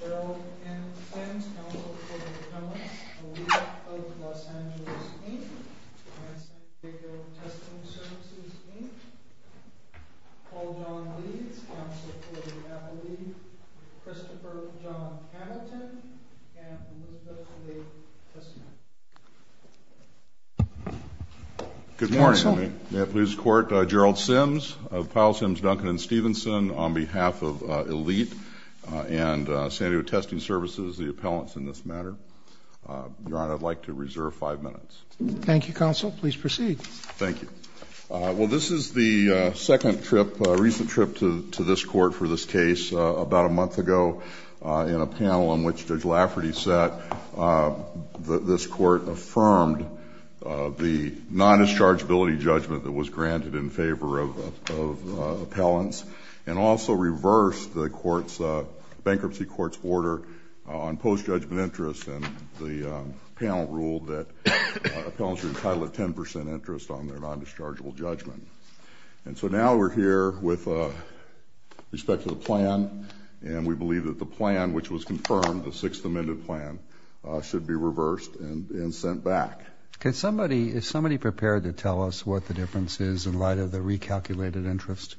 Gerald N. Sims, counsel for the appellate, the leader of the Los Angeles team, and the San Diego Testing Services team Paul John Leeds, counsel for the appellate, Christopher John Hamilton, and Elizabeth Leigh Tisman. Good morning. May I please court Gerald Sims of Powell, Sims, Duncan, and Stevenson on behalf of Elite and San Diego Testing Services, the appellants in this matter. Your Honor, I'd like to reserve five minutes. Thank you, counsel. Please proceed. Thank you. Well, this is the second trip, recent trip to this court for this case. About a month ago in a panel on which Judge Lafferty sat, this court affirmed the non-dischargeability judgment that was granted in favor of appellants and also reversed the bankruptcy court's order on post-judgment interest. And the panel ruled that appellants were entitled to 10% interest on their non-dischargeable judgment. And so now we're here with respect to the plan, and we believe that the plan, which was confirmed, the Sixth Amendment plan, should be reversed and sent back. Is somebody prepared to tell us what the difference is in light of the recalculated interest?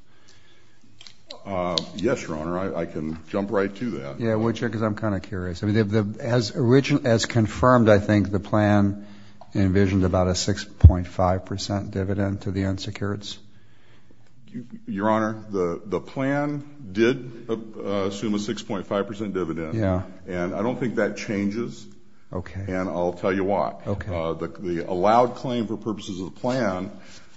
Yes, Your Honor. I can jump right to that. Yeah, would you? Because I'm kind of curious. As confirmed, I think the plan envisioned about a 6.5% dividend to the unsecureds. Your Honor, the plan did assume a 6.5% dividend. Yeah. And I don't think that changes. Okay. And I'll tell you what. Okay. The allowed claim for purposes of the plan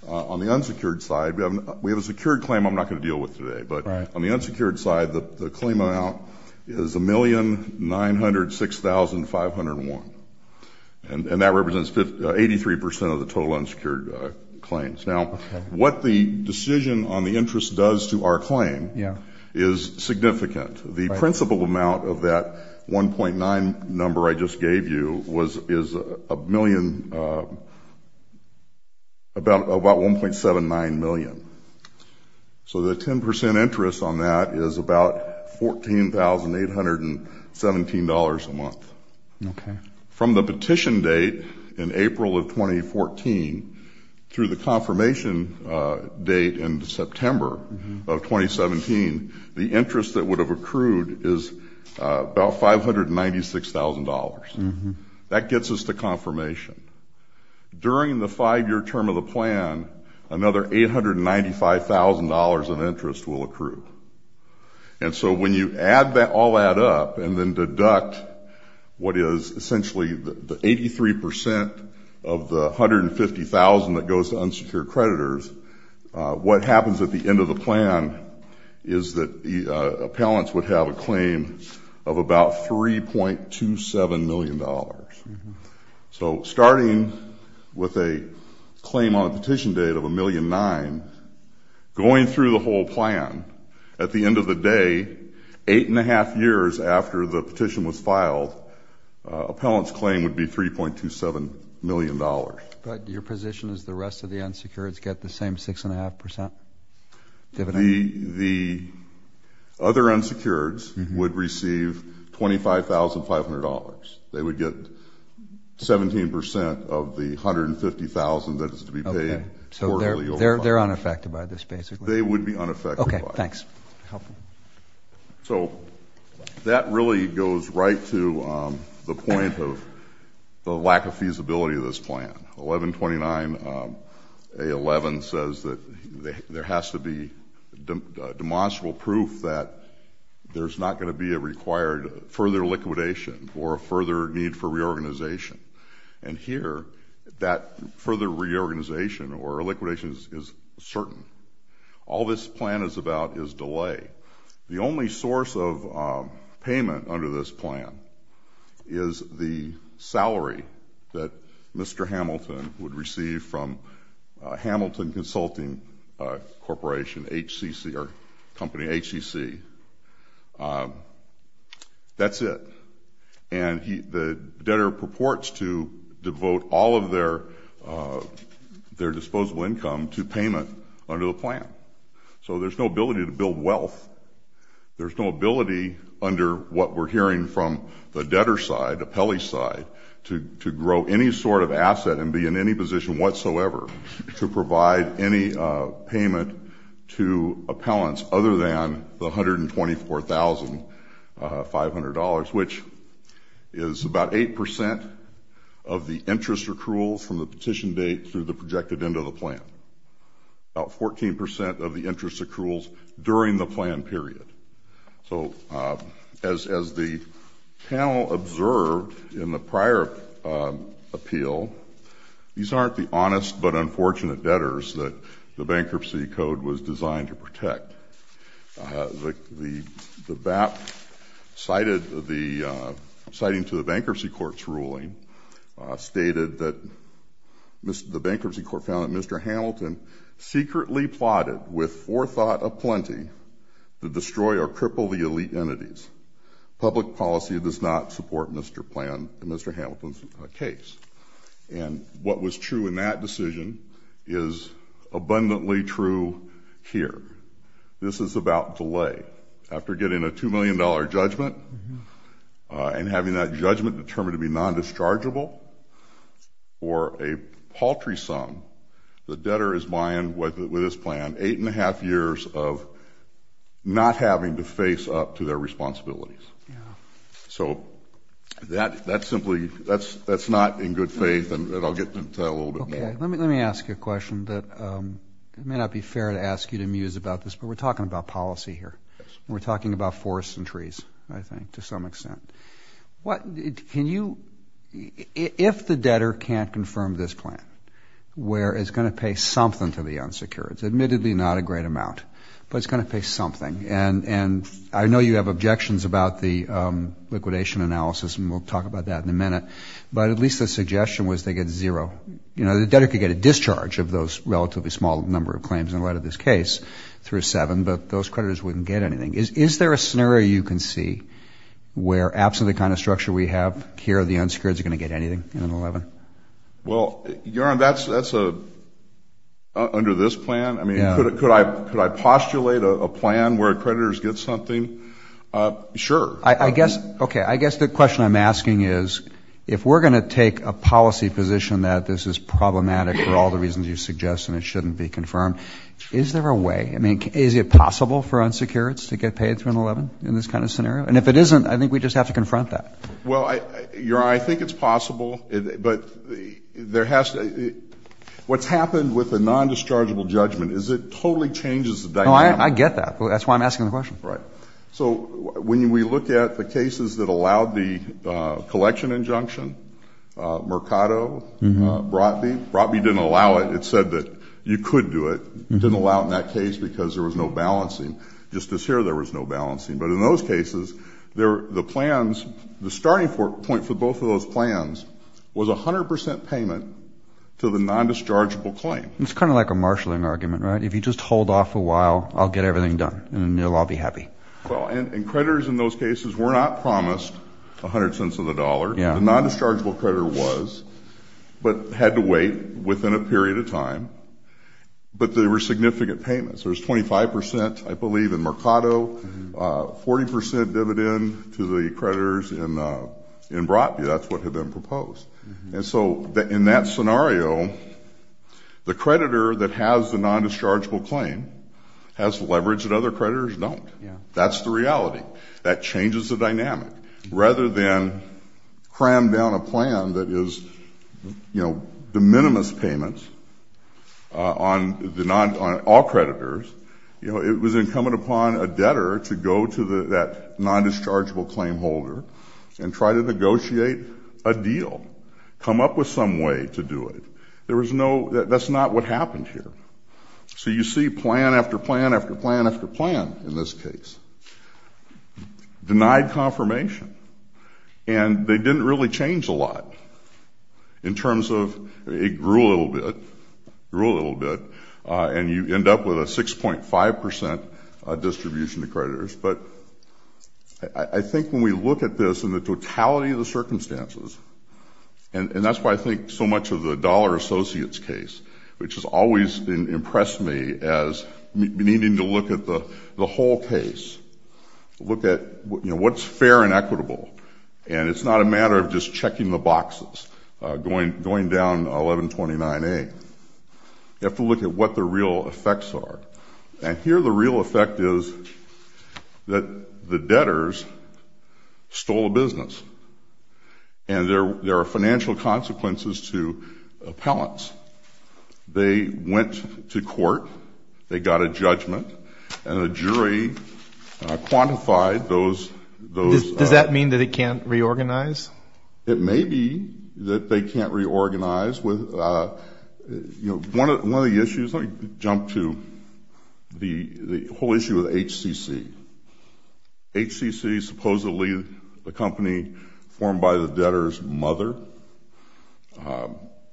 on the unsecured side, we have a secured claim I'm not going to deal with today. Right. On the unsecured side, the claim amount is $1,906,501. And that represents 83% of the total unsecured claims. Now, what the decision on the interest does to our claim is significant. The principal amount of that 1.9 number I just gave you is about $1.79 million. So the 10% interest on that is about $14,817 a month. Okay. From the petition date in April of 2014 through the confirmation date in September of 2017, the interest that would have accrued is about $596,000. That gets us to confirmation. During the five-year term of the plan, another $895,000 of interest will accrue. And so when you add all that up and then deduct what is essentially the 83% of the $150,000 that goes to unsecured creditors, what happens at the end of the plan is that the appellants would have a claim of about $3.27 million. So starting with a claim on a petition date of $1.9 million, going through the whole plan, at the end of the day, eight and a half years after the petition was filed, appellants' claim would be $3.27 million. But your position is the rest of the unsecureds get the same 6.5% dividend? The other unsecureds would receive $25,500. They would get 17% of the $150,000 that is to be paid. Okay. So they're unaffected by this, basically? They would be unaffected by it. Okay, thanks. Helpful. So that really goes right to the point of the lack of feasibility of this plan. 1129A11 says that there has to be demonstrable proof that there's not going to be a required further liquidation or a further need for reorganization. And here, that further reorganization or liquidation is certain. All this plan is about is delay. The only source of payment under this plan is the salary that Mr. Hamilton would receive from Hamilton Consulting Corporation, HCC, or company HCC. That's it. And the debtor purports to devote all of their disposable income to payment under the plan. So there's no ability to build wealth. There's no ability under what we're hearing from the debtor side, appellee side, to grow any sort of asset and be in any position whatsoever to provide any payment to appellants other than the $124,500, which is about 8% of the interest accruals from the petition date through the projected end of the plan. About 14% of the interest accruals during the plan period. So as the panel observed in the prior appeal, these aren't the honest but unfortunate debtors that the Bankruptcy Code was designed to protect. The BAP citing to the Bankruptcy Court's ruling stated that the Bankruptcy Court found that Mr. Hamilton secretly plotted with forethought aplenty to destroy or cripple the elite entities. Public policy does not support Mr. Plan and Mr. Hamilton's case. And what was true in that decision is abundantly true here. This is about delay. After getting a $2 million judgment and having that judgment determined to be non-dischargeable or a paltry sum, the debtor is buying, with this plan, eight and a half years of not having to face up to their responsibilities. So that's simply – that's not in good faith, and I'll get to that a little bit more. Let me ask you a question that it may not be fair to ask you to muse about this, but we're talking about policy here. We're talking about forests and trees, I think, to some extent. What – can you – if the debtor can't confirm this plan, where it's going to pay something to the unsecured, it's admittedly not a great amount, but it's going to pay something, and I know you have objections about the liquidation analysis, and we'll talk about that in a minute, but at least the suggestion was they get zero. You know, the debtor could get a discharge of those relatively small number of claims in light of this case through seven, but those creditors wouldn't get anything. Is there a scenario you can see where absolutely the kind of structure we have here, the unsecured is going to get anything in an 11? Well, that's under this plan. I mean, could I postulate a plan where creditors get something? Sure. I guess – okay, I guess the question I'm asking is if we're going to take a policy position that this is problematic for all the reasons you suggest and it shouldn't be confirmed, is there a way? I mean, is it possible for unsecureds to get paid through an 11 in this kind of scenario? And if it isn't, I think we just have to confront that. Well, Your Honor, I think it's possible, but there has to – what's happened with the nondischargeable judgment is it totally changes the dynamic. Oh, I get that. That's why I'm asking the question. Right. So when we look at the cases that allowed the collection injunction, Mercado, Brotby, Brotby didn't allow it. It said that you could do it. It didn't allow it in that case because there was no balancing. Just this year there was no balancing. But in those cases, the plans – the starting point for both of those plans was 100 percent payment to the nondischargeable claim. It's kind of like a marshaling argument, right? If you just hold off a while, I'll get everything done, and then they'll all be happy. Well, and creditors in those cases were not promised 100 cents of the dollar. The nondischargeable creditor was, but had to wait within a period of time. But there were significant payments. There was 25 percent, I believe, in Mercado, 40 percent dividend to the creditors in Brotby. That's what had been proposed. And so in that scenario, the creditor that has the nondischargeable claim has leverage that other creditors don't. That's the reality. That changes the dynamic. Rather than cram down a plan that is, you know, de minimis payments on all creditors, you know, it was incumbent upon a debtor to go to that nondischargeable claim holder and try to negotiate a deal, come up with some way to do it. There was no – that's not what happened here. So you see plan after plan after plan after plan in this case. Denied confirmation. And they didn't really change a lot in terms of – it grew a little bit, grew a little bit, and you end up with a 6.5 percent distribution to creditors. But I think when we look at this in the totality of the circumstances, and that's why I think so much of the Dollar Associates case, which has always impressed me as needing to look at the whole case, to look at, you know, what's fair and equitable. And it's not a matter of just checking the boxes, going down 1129A. You have to look at what the real effects are. And here the real effect is that the debtors stole a business. And there are financial consequences to appellants. They went to court. They got a judgment. And a jury quantified those. Does that mean that it can't reorganize? It may be that they can't reorganize. One of the issues – let me jump to the whole issue with HCC. HCC is supposedly a company formed by the debtor's mother.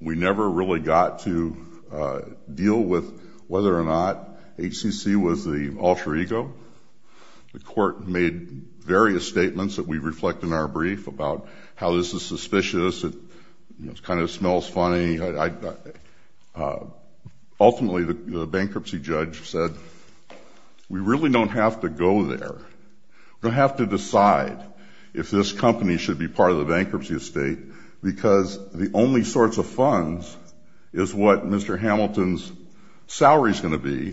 We never really got to deal with whether or not HCC was the alter ego. The court made various statements that we reflect in our brief about how this is suspicious. It kind of smells funny. Ultimately, the bankruptcy judge said, we really don't have to go there. We're going to have to decide if this company should be part of the bankruptcy estate because the only sorts of funds is what Mr. Hamilton's salary is going to be,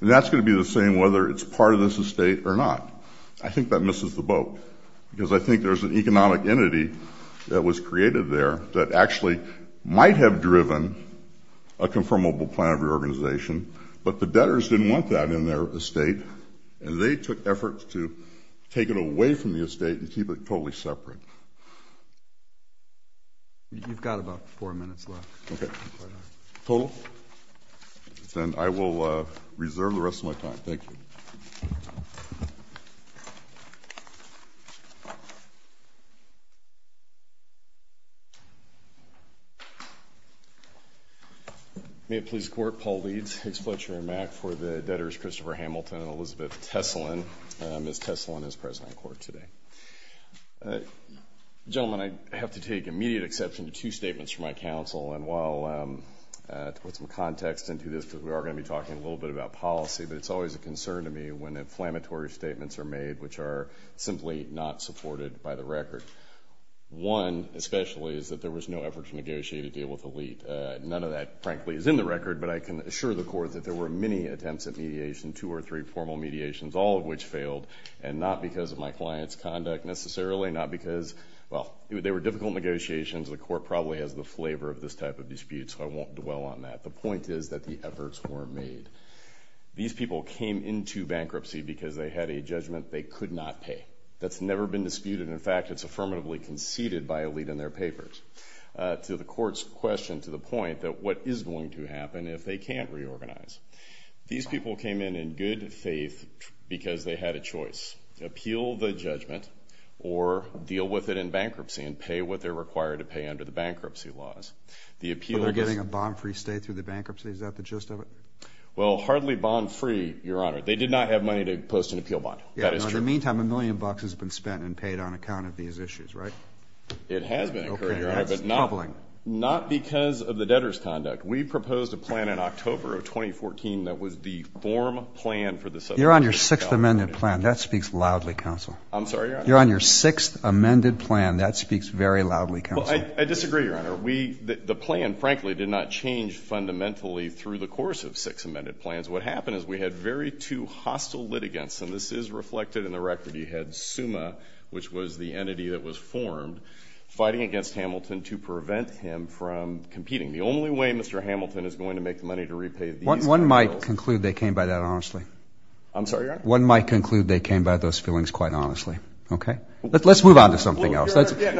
and that's going to be the same whether it's part of this estate or not. I think that misses the boat because I think there's an economic entity that was created there that actually might have driven a confirmable plan of reorganization, but the debtors didn't want that in their estate, and they took efforts to take it away from the estate and keep it totally separate. You've got about four minutes left. Okay. Total? Then I will reserve the rest of my time. Thank you. Thank you. May it please the Court, Paul Leeds. Exploiture in Mack for the debtors Christopher Hamilton and Elizabeth Tesselin. Ms. Tesselin is present in court today. Gentlemen, I have to take immediate exception to two statements from my counsel, and while to put some context into this because we are going to be talking a little bit about policy, but it's always a concern to me when inflammatory statements are made, which are simply not supported by the record. One especially is that there was no effort to negotiate a deal with Elite. None of that, frankly, is in the record, but I can assure the Court that there were many attempts at mediation, two or three formal mediations, all of which failed, and not because of my client's conduct necessarily, not because, well, they were difficult negotiations. The Court probably has the flavor of this type of dispute, so I won't dwell on that. The point is that the efforts were made. These people came into bankruptcy because they had a judgment they could not pay. That's never been disputed. In fact, it's affirmatively conceded by Elite in their papers to the Court's question to the point that what is going to happen if they can't reorganize? These people came in in good faith because they had a choice. Appeal the judgment or deal with it in bankruptcy and pay what they're required to pay under the bankruptcy laws. Are they getting a bond-free stay through the bankruptcy? Is that the gist of it? Well, hardly bond-free, Your Honor. They did not have money to post an appeal bond. That is true. In the meantime, a million bucks has been spent and paid on account of these issues, right? It has been incurred, Your Honor. Okay, that's troubling. But not because of the debtor's conduct. We proposed a plan in October of 2014 that was the form plan for the settlement. You're on your sixth amended plan. That speaks loudly, Counsel. I'm sorry, Your Honor? You're on your sixth amended plan. That speaks very loudly, Counsel. I disagree, Your Honor. The plan, frankly, did not change fundamentally through the course of six amended plans. What happened is we had very two hostile litigants, and this is reflected in the record. You had SUMA, which was the entity that was formed, fighting against Hamilton to prevent him from competing. The only way Mr. Hamilton is going to make the money to repay these appeals. One might conclude they came by that honestly. I'm sorry, Your Honor? One might conclude they came by those feelings quite honestly. Okay? Let's move on to something else. Let's move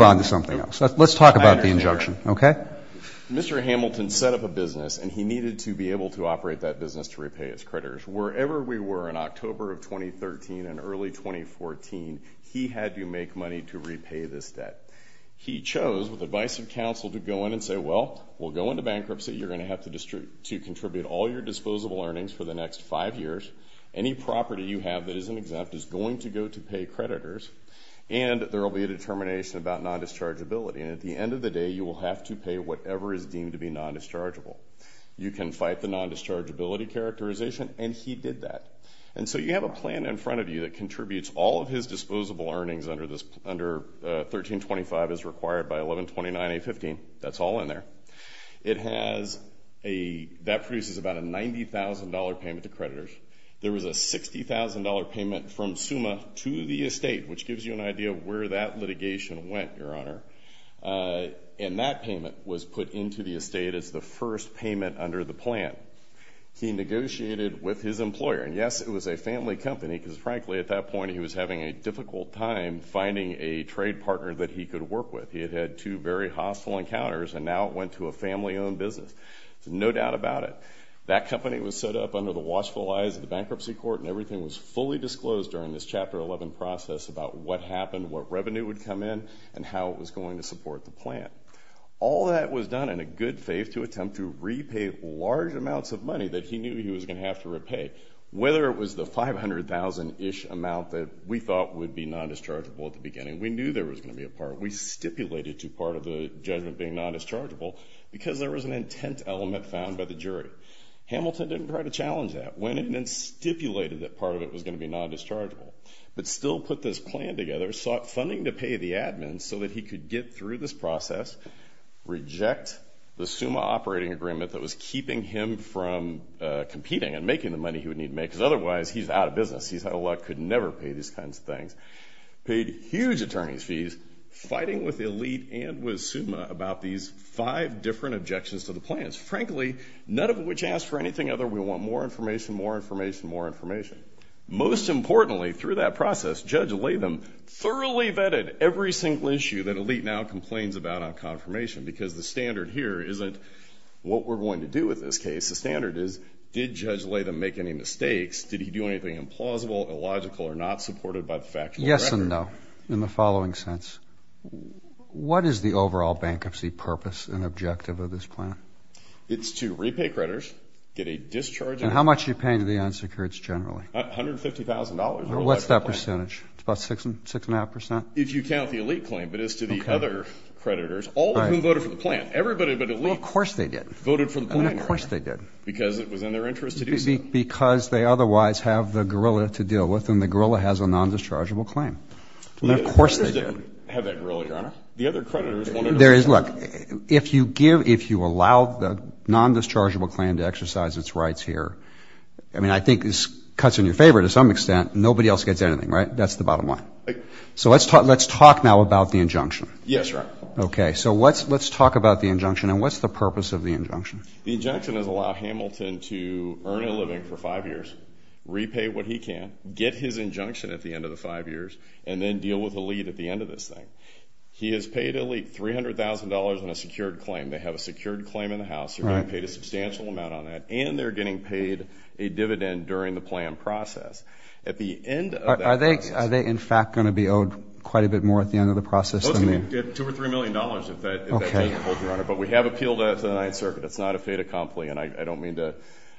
on to something else. Let's talk about the injunction. Okay? Mr. Hamilton set up a business, and he needed to be able to operate that business to repay his creditors. Wherever we were in October of 2013 and early 2014, he had to make money to repay this debt. He chose, with the advice of counsel, to go in and say, well, we'll go into bankruptcy. You're going to have to contribute all your disposable earnings for the next five years. Any property you have that isn't exempt is going to go to pay creditors, and there will be a determination about non-dischargeability. And at the end of the day, you will have to pay whatever is deemed to be non-dischargeable. You can fight the non-dischargeability characterization, and he did that. And so you have a plan in front of you that contributes all of his disposable earnings under 1325 as required by 1129A15. That's all in there. It has a – that produces about a $90,000 payment to creditors. There was a $60,000 payment from SUMA to the estate, which gives you an idea of where that litigation went, Your Honor. And that payment was put into the estate as the first payment under the plan. He negotiated with his employer. And, yes, it was a family company because, frankly, at that point he was having a difficult time finding a trade partner that he could work with. He had had two very hostile encounters, and now it went to a family-owned business. There's no doubt about it. That company was set up under the watchful eyes of the bankruptcy court, and everything was fully disclosed during this Chapter 11 process about what happened, what revenue would come in, and how it was going to support the plan. All that was done in a good faith to attempt to repay large amounts of money that he knew he was going to have to repay, whether it was the $500,000-ish amount that we thought would be non-dischargeable at the beginning. We knew there was going to be a part. We stipulated to part of the judgment being non-dischargeable because there was an intent element found by the jury. Hamilton didn't try to challenge that. Went in and stipulated that part of it was going to be non-dischargeable, but still put this plan together, sought funding to pay the admin so that he could get through this process, reject the SUMA operating agreement that was keeping him from competing and making the money he would need to make, because otherwise he's out of business. Paid huge attorney's fees, fighting with Elite and with SUMA about these five different objections to the plans, frankly, none of which asked for anything other than we want more information, more information, more information. Most importantly, through that process, Judge Latham thoroughly vetted every single issue that Elite now complains about on confirmation because the standard here isn't what we're going to do with this case. The standard is, did Judge Latham make any mistakes? Did he do anything implausible, illogical, or not supported by the factual record? Yes and no, in the following sense. What is the overall bankruptcy purpose and objective of this plan? It's to repay creditors, get a discharge. And how much are you paying to the unsecureds generally? $150,000. What's that percentage? It's about 6.5%? If you count the Elite claim, but as to the other creditors, all of whom voted for the plan. Everybody but Elite voted for the plan. Of course they did. Because it was in their interest to do so. Because they otherwise have the gorilla to deal with, and the gorilla has a nondischargeable claim. Of course they did. The creditors didn't have that gorilla, Your Honor. The other creditors wanted to... Look, if you give, if you allow the nondischargeable claim to exercise its rights here, I mean, I think this cuts in your favor to some extent. Nobody else gets anything, right? That's the bottom line. So let's talk now about the injunction. Yes, Your Honor. Okay, so let's talk about the injunction, and what's the purpose of the injunction? The injunction is to allow Hamilton to earn a living for five years, repay what he can, get his injunction at the end of the five years, and then deal with Elite at the end of this thing. He has paid Elite $300,000 on a secured claim. They have a secured claim in the House. They're getting paid a substantial amount on that, and they're getting paid a dividend during the plan process. At the end of that process... Are they, in fact, going to be owed quite a bit more at the end of the process than they... Those can get $2 million or $3 million if that doesn't hold, Your Honor. But we have appealed to the Ninth Circuit. It's not a fait accompli, and I don't mean to...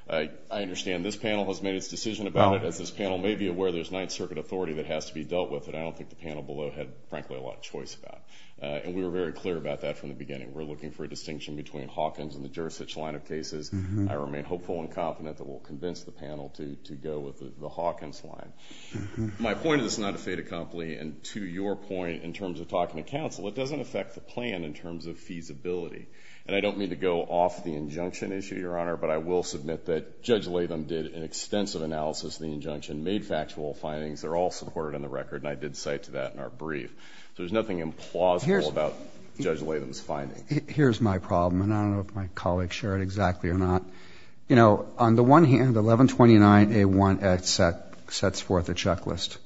I understand this panel has made its decision about it. As this panel may be aware, there's Ninth Circuit authority that has to be dealt with, and I don't think the panel below had, frankly, a lot of choice about it. And we were very clear about that from the beginning. We're looking for a distinction between Hawkins and the Jurisdiction line of cases. I remain hopeful and confident that we'll convince the panel to go with the Hawkins line. My point is it's not a fait accompli, and to your point, in terms of talking to counsel, it doesn't affect the plan in terms of feasibility. And I don't mean to go off the injunction issue, Your Honor, but I will submit that Judge Latham did an extensive analysis of the injunction, made factual findings. They're all supported in the record, and I did cite to that in our brief. So there's nothing implausible about Judge Latham's finding. Here's my problem, and I don't know if my colleagues share it exactly or not. You know, on the one hand, 1129A1X sets forth a checklist.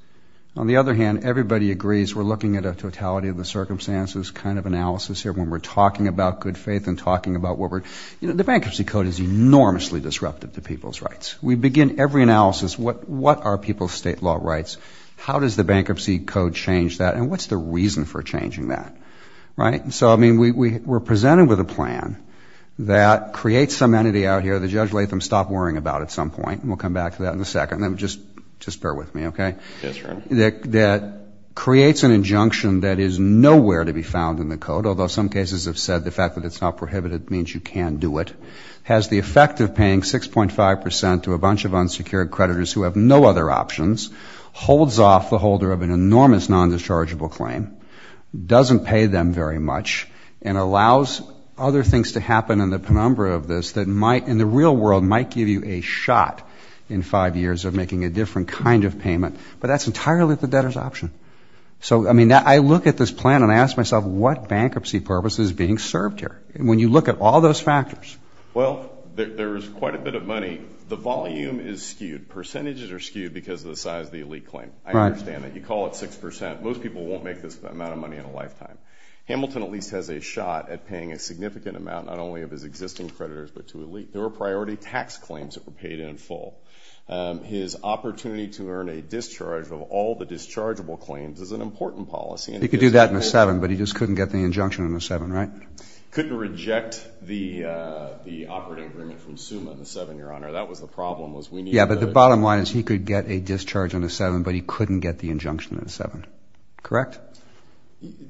On the other hand, everybody agrees we're looking at a totality of the circumstances kind of analysis here when we're talking about good faith and talking about what we're doing. You know, the Bankruptcy Code is enormously disruptive to people's rights. We begin every analysis, what are people's state law rights, how does the Bankruptcy Code change that, and what's the reason for changing that, right? So, I mean, we're presented with a plan that creates some entity out here that Judge Latham stopped worrying about at some point, and we'll come back to that in a second, just bear with me, okay, that creates an injunction that is nowhere to be found in the Code, although some cases have said the fact that it's not prohibited means you can do it, has the effect of paying 6.5 percent to a bunch of unsecured creditors who have no other options, holds off the holder of an enormous non-dischargeable claim, doesn't pay them very much, and allows other things to happen in the penumbra of this that in the real world might give you a shot in five years of making a different kind of payment, but that's entirely at the debtor's option. So, I mean, I look at this plan and I ask myself what bankruptcy purpose is being served here, and when you look at all those factors. Well, there is quite a bit of money. The volume is skewed. Percentages are skewed because of the size of the elite claim. I understand that. You call it 6 percent. Most people won't make this amount of money in a lifetime. Hamilton at least has a shot at paying a significant amount, not only of his existing creditors but to elite. There were priority tax claims that were paid in full. His opportunity to earn a discharge of all the dischargeable claims is an important policy. He could do that in the 7, but he just couldn't get the injunction in the 7, right? Couldn't reject the operating agreement from SUMA in the 7, Your Honor. That was the problem. Yeah, but the bottom line is he could get a discharge in the 7, but he couldn't get the injunction in the 7. Correct?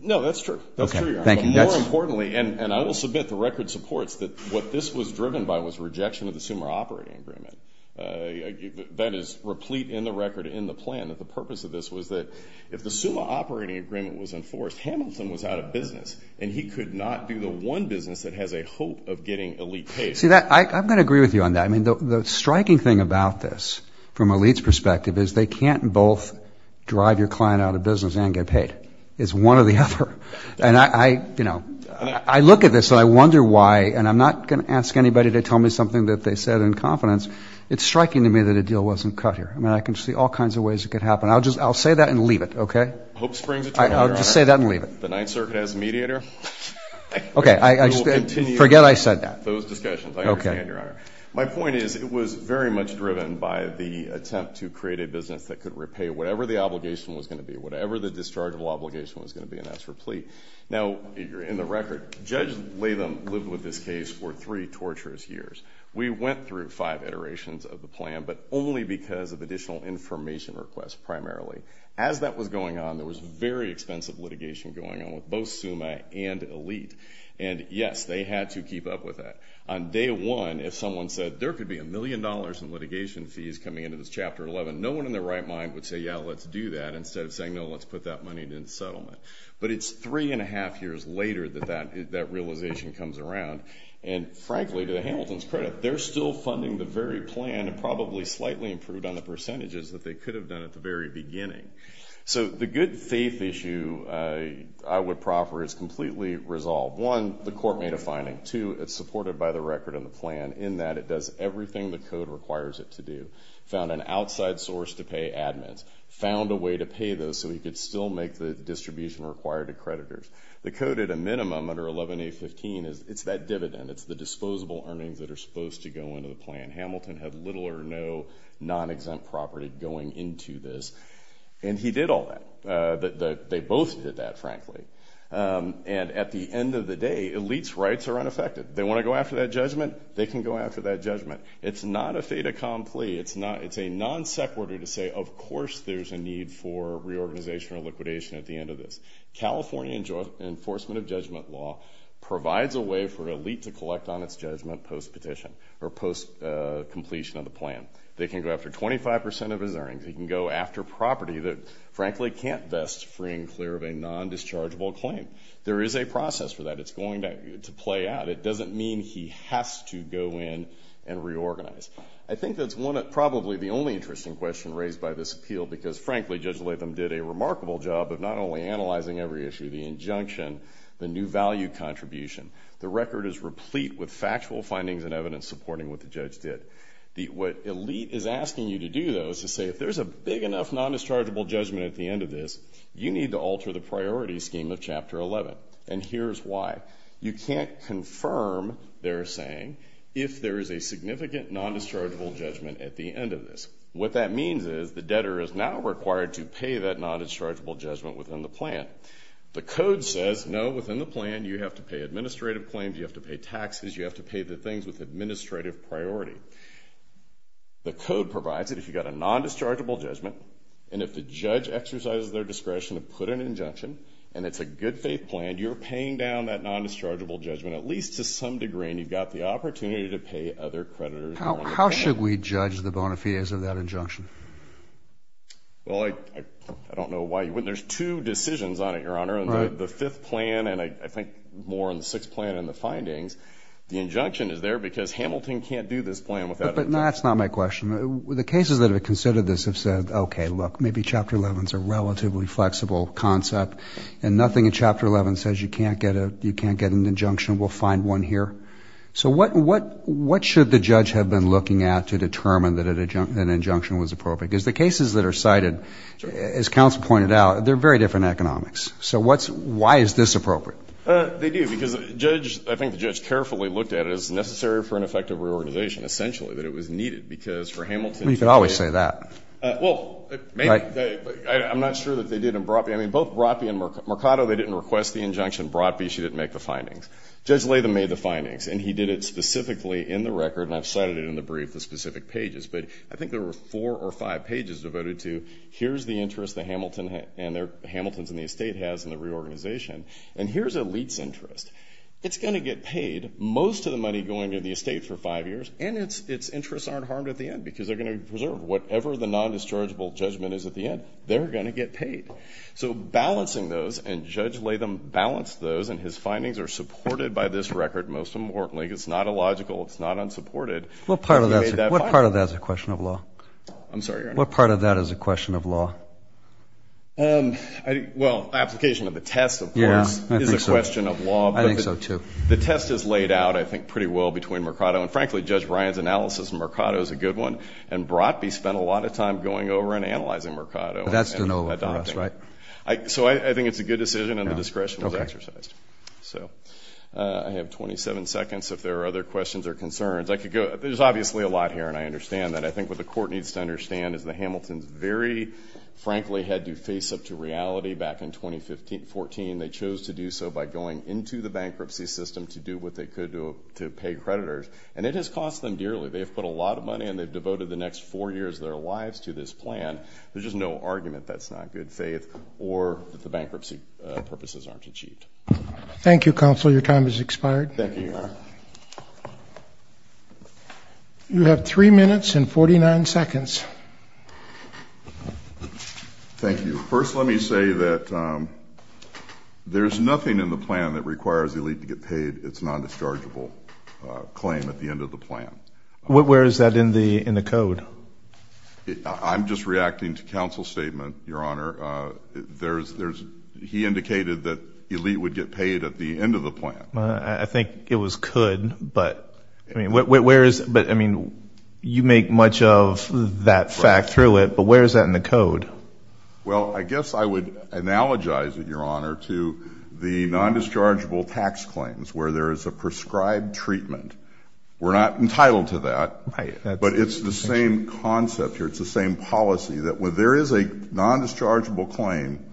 No, that's true. That's true, Your Honor. But more importantly, and I will submit the record supports that what this was driven by was rejection of the SUMA operating agreement. That is replete in the record in the plan that the purpose of this was that if the SUMA operating agreement was enforced, Hamilton was out of business and he could not do the one business that has a hope of getting elite paid. See, I'm going to agree with you on that. I mean, the striking thing about this from elite's perspective is they can't both drive your client out of business and get paid. It's one or the other. And I, you know, I look at this and I wonder why, and I'm not going to ask anybody to tell me something that they said in confidence. It's striking to me that a deal wasn't cut here. I mean, I can see all kinds of ways it could happen. I'll just say that and leave it, okay? Hope springs eternal, Your Honor. I'll just say that and leave it. The Ninth Circuit has a mediator. Okay, forget I said that. Those discussions, I understand, Your Honor. My point is it was very much driven by the attempt to create a business that could repay whatever the obligation was going to be, whatever the dischargeable obligation was going to be, and that's replete. Now, in the record, Judge Latham lived with this case for three torturous years. We went through five iterations of the plan, but only because of additional information requests primarily. As that was going on, there was very expensive litigation going on with both SUMA and elite. And, yes, they had to keep up with that. On day one, if someone said there could be a million dollars in litigation fees coming into this Chapter 11, no one in their right mind would say, yeah, let's do that, instead of saying, no, let's put that money into settlement. But it's three-and-a-half years later that that realization comes around. And, frankly, to Hamilton's credit, they're still funding the very plan and probably slightly improved on the percentages that they could have done at the very beginning. So the good faith issue, I would proffer, is completely resolved. One, the court made a finding. Two, it's supported by the record and the plan in that it does everything the code requires it to do. It found an outside source to pay admins, found a way to pay those so we could still make the distribution required to creditors. The code at a minimum under 11A.15, it's that dividend. It's the disposable earnings that are supposed to go into the plan. Hamilton had little or no non-exempt property going into this. And he did all that. They both did that, frankly. And at the end of the day, elites' rights are unaffected. They want to go after that judgment, they can go after that judgment. It's not a fait accompli. It's a non-sec order to say, of course there's a need for reorganization or liquidation at the end of this. California enforcement of judgment law provides a way for an elite to collect on its judgment post-petition or post-completion of the plan. They can go after 25% of his earnings. They can go after property that, frankly, can't vest free and clear of a non-dischargeable claim. There is a process for that. It's going to play out. It doesn't mean he has to go in and reorganize. I think that's probably the only interesting question raised by this appeal because, frankly, Judge Latham did a remarkable job of not only analyzing every issue, the injunction, the new value contribution. The record is replete with factual findings and evidence supporting what the judge did. What elite is asking you to do, though, is to say, if there's a big enough non-dischargeable judgment at the end of this, you need to alter the priority scheme of Chapter 11. And here's why. You can't confirm, they're saying, if there is a significant non-dischargeable judgment at the end of this. What that means is the debtor is now required to pay that non-dischargeable judgment within the plan. The code says, no, within the plan, you have to pay administrative claims. You have to pay taxes. You have to pay the things with administrative priority. The code provides that if you've got a non-dischargeable judgment and if the judge exercises their discretion to put an injunction and it's a good faith plan, you're paying down that non-dischargeable judgment at least to some degree and you've got the opportunity to pay other creditors. How should we judge the bona fides of that injunction? Well, I don't know why you wouldn't. There's two decisions on it, Your Honor. The fifth plan and I think more on the sixth plan and the findings, the injunction is there because Hamilton can't do this plan without it. But that's not my question. The cases that have considered this have said, okay, look, maybe Chapter 11 is a relatively flexible concept and nothing in Chapter 11 says you can't get an injunction, we'll find one here. So what should the judge have been looking at to determine that an injunction was appropriate? Because the cases that are cited, as counsel pointed out, they're very different economics. So why is this appropriate? They do because I think the judge carefully looked at it as necessary for an effective reorganization, essentially that it was needed because for Hamilton to do it. You can always say that. Well, I'm not sure that they did in Brodby. I mean, both Brodby and Mercado, they didn't request the injunction. Brodby, she didn't make the findings. Judge Latham made the findings and he did it specifically in the record and I've cited it in the brief, the specific pages. But I think there were four or five pages devoted to here's the interest that Hamilton and their Hamilton's in the estate has in the reorganization and here's Elite's interest. It's going to get paid most of the money going to the estate for five years and its interests aren't harmed at the end because they're going to be preserved. Whatever the non-dischargeable judgment is at the end, they're going to get paid. So balancing those and Judge Latham balanced those and his findings are supported by this record most importantly. It's not illogical. It's not unsupported. What part of that is a question of law? I'm sorry, Your Honor. What part of that is a question of law? Well, application of the test, of course, is a question of law. I think so too. The test is laid out, I think, pretty well between Mercado and frankly Judge Ryan's analysis of Mercado is a good one and Brotby spent a lot of time going over and analyzing Mercado. But that's de novo for us, right? So I think it's a good decision and the discretion was exercised. I have 27 seconds if there are other questions or concerns. There's obviously a lot here and I understand that. I think what the court needs to understand is the Hamiltons very frankly had to face up to reality back in 2014. They chose to do so by going into the bankruptcy system to do what they could to pay creditors. And it has cost them dearly. They have put a lot of money and they've devoted the next four years of their lives to this plan. There's just no argument that's not good faith or that the bankruptcy purposes aren't achieved. Thank you, Counselor. Your time has expired. Thank you, Your Honor. You have three minutes and 49 seconds. Thank you. First, let me say that there's nothing in the plan that requires the elite to get paid its nondischargeable claim at the end of the plan. Where is that in the code? I'm just reacting to Counsel's statement, Your Honor. He indicated that elite would get paid at the end of the plan. I think it was could, but where is it? I mean, you make much of that fact through it, but where is that in the code? Well, I guess I would analogize it, Your Honor, to the nondischargeable tax claims where there is a prescribed treatment. We're not entitled to that, but it's the same concept here. It's the same policy that when there is a nondischargeable claim,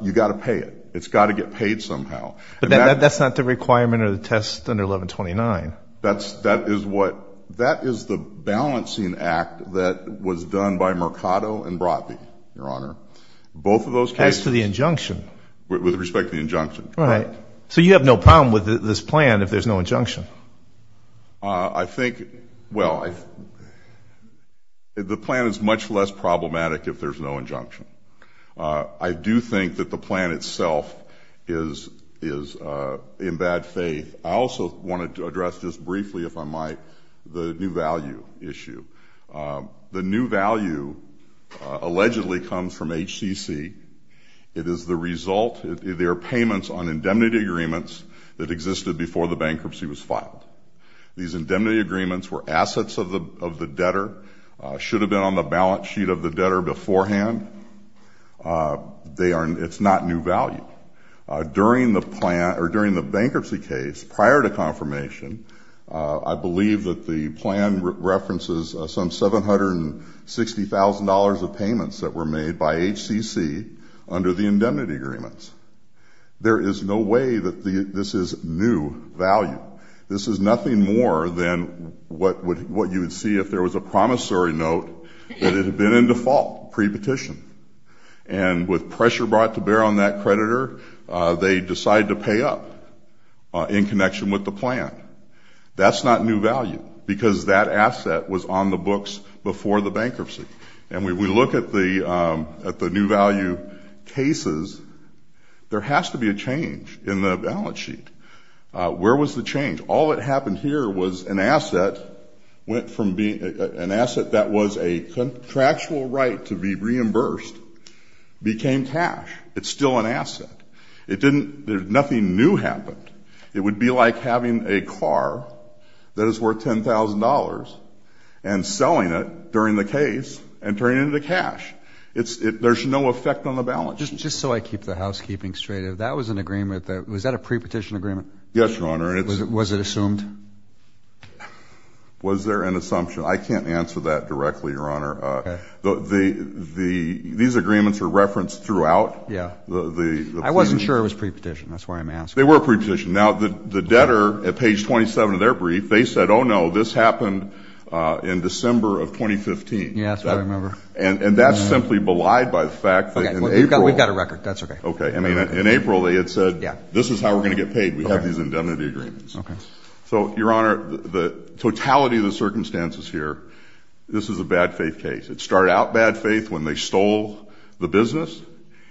you've got to pay it. It's got to get paid somehow. But that's not the requirement of the test under 1129. That is the balancing act that was done by Mercado and Brotby, Your Honor. Both of those cases. As to the injunction. With respect to the injunction. Right. So you have no problem with this plan if there's no injunction? I think, well, the plan is much less problematic if there's no injunction. I do think that the plan itself is in bad faith. I also wanted to address just briefly, if I might, the new value issue. The new value allegedly comes from HCC. It is the result of their payments on indemnity agreements that existed before the bankruptcy was filed. These indemnity agreements were assets of the debtor, should have been on the balance sheet of the debtor beforehand. It's not new value. During the bankruptcy case, prior to confirmation, I believe that the plan references some $760,000 of payments that were made by HCC under the indemnity agreements. There is no way that this is new value. This is nothing more than what you would see if there was a promissory note that it had been in default pre-petition. And with pressure brought to bear on that creditor, they decide to pay up in connection with the plan. That's not new value because that asset was on the books before the bankruptcy. And when we look at the new value cases, there has to be a change in the balance sheet. Where was the change? All that happened here was an asset that was a contractual right to be reimbursed became cash. It's still an asset. Nothing new happened. It would be like having a car that is worth $10,000 and selling it during the case and turning it into cash. There's no effect on the balance sheet. Just so I keep the housekeeping straight, if that was an agreement, was that a pre-petition agreement? Yes, Your Honor. Was it assumed? Was there an assumption? I can't answer that directly, Your Honor. Okay. These agreements are referenced throughout. Yeah. I wasn't sure it was pre-petition. That's why I'm asking. They were pre-petition. Now, the debtor, at page 27 of their brief, they said, oh, no, this happened in December of 2015. Yeah, that's what I remember. And that's simply belied by the fact that in April. Okay. We've got a record. That's okay. Okay. In April, they had said, this is how we're going to get paid. Okay. We have these indemnity agreements. Okay. So, Your Honor, the totality of the circumstances here, this is a bad faith case. It started out bad faith when they stole the business.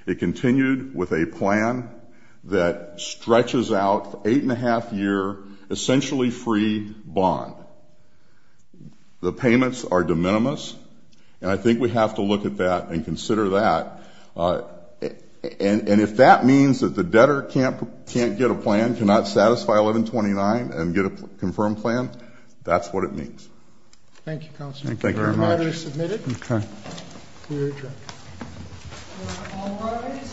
It continued with a plan that stretches out an eight-and-a-half-year essentially free bond. The payments are de minimis, and I think we have to look at that and consider that. And if that means that the debtor can't get a plan, cannot satisfy 1129 and get a confirmed plan, that's what it means. Thank you, Counselor. Thank you very much. The order is submitted. Okay. We are adjourned.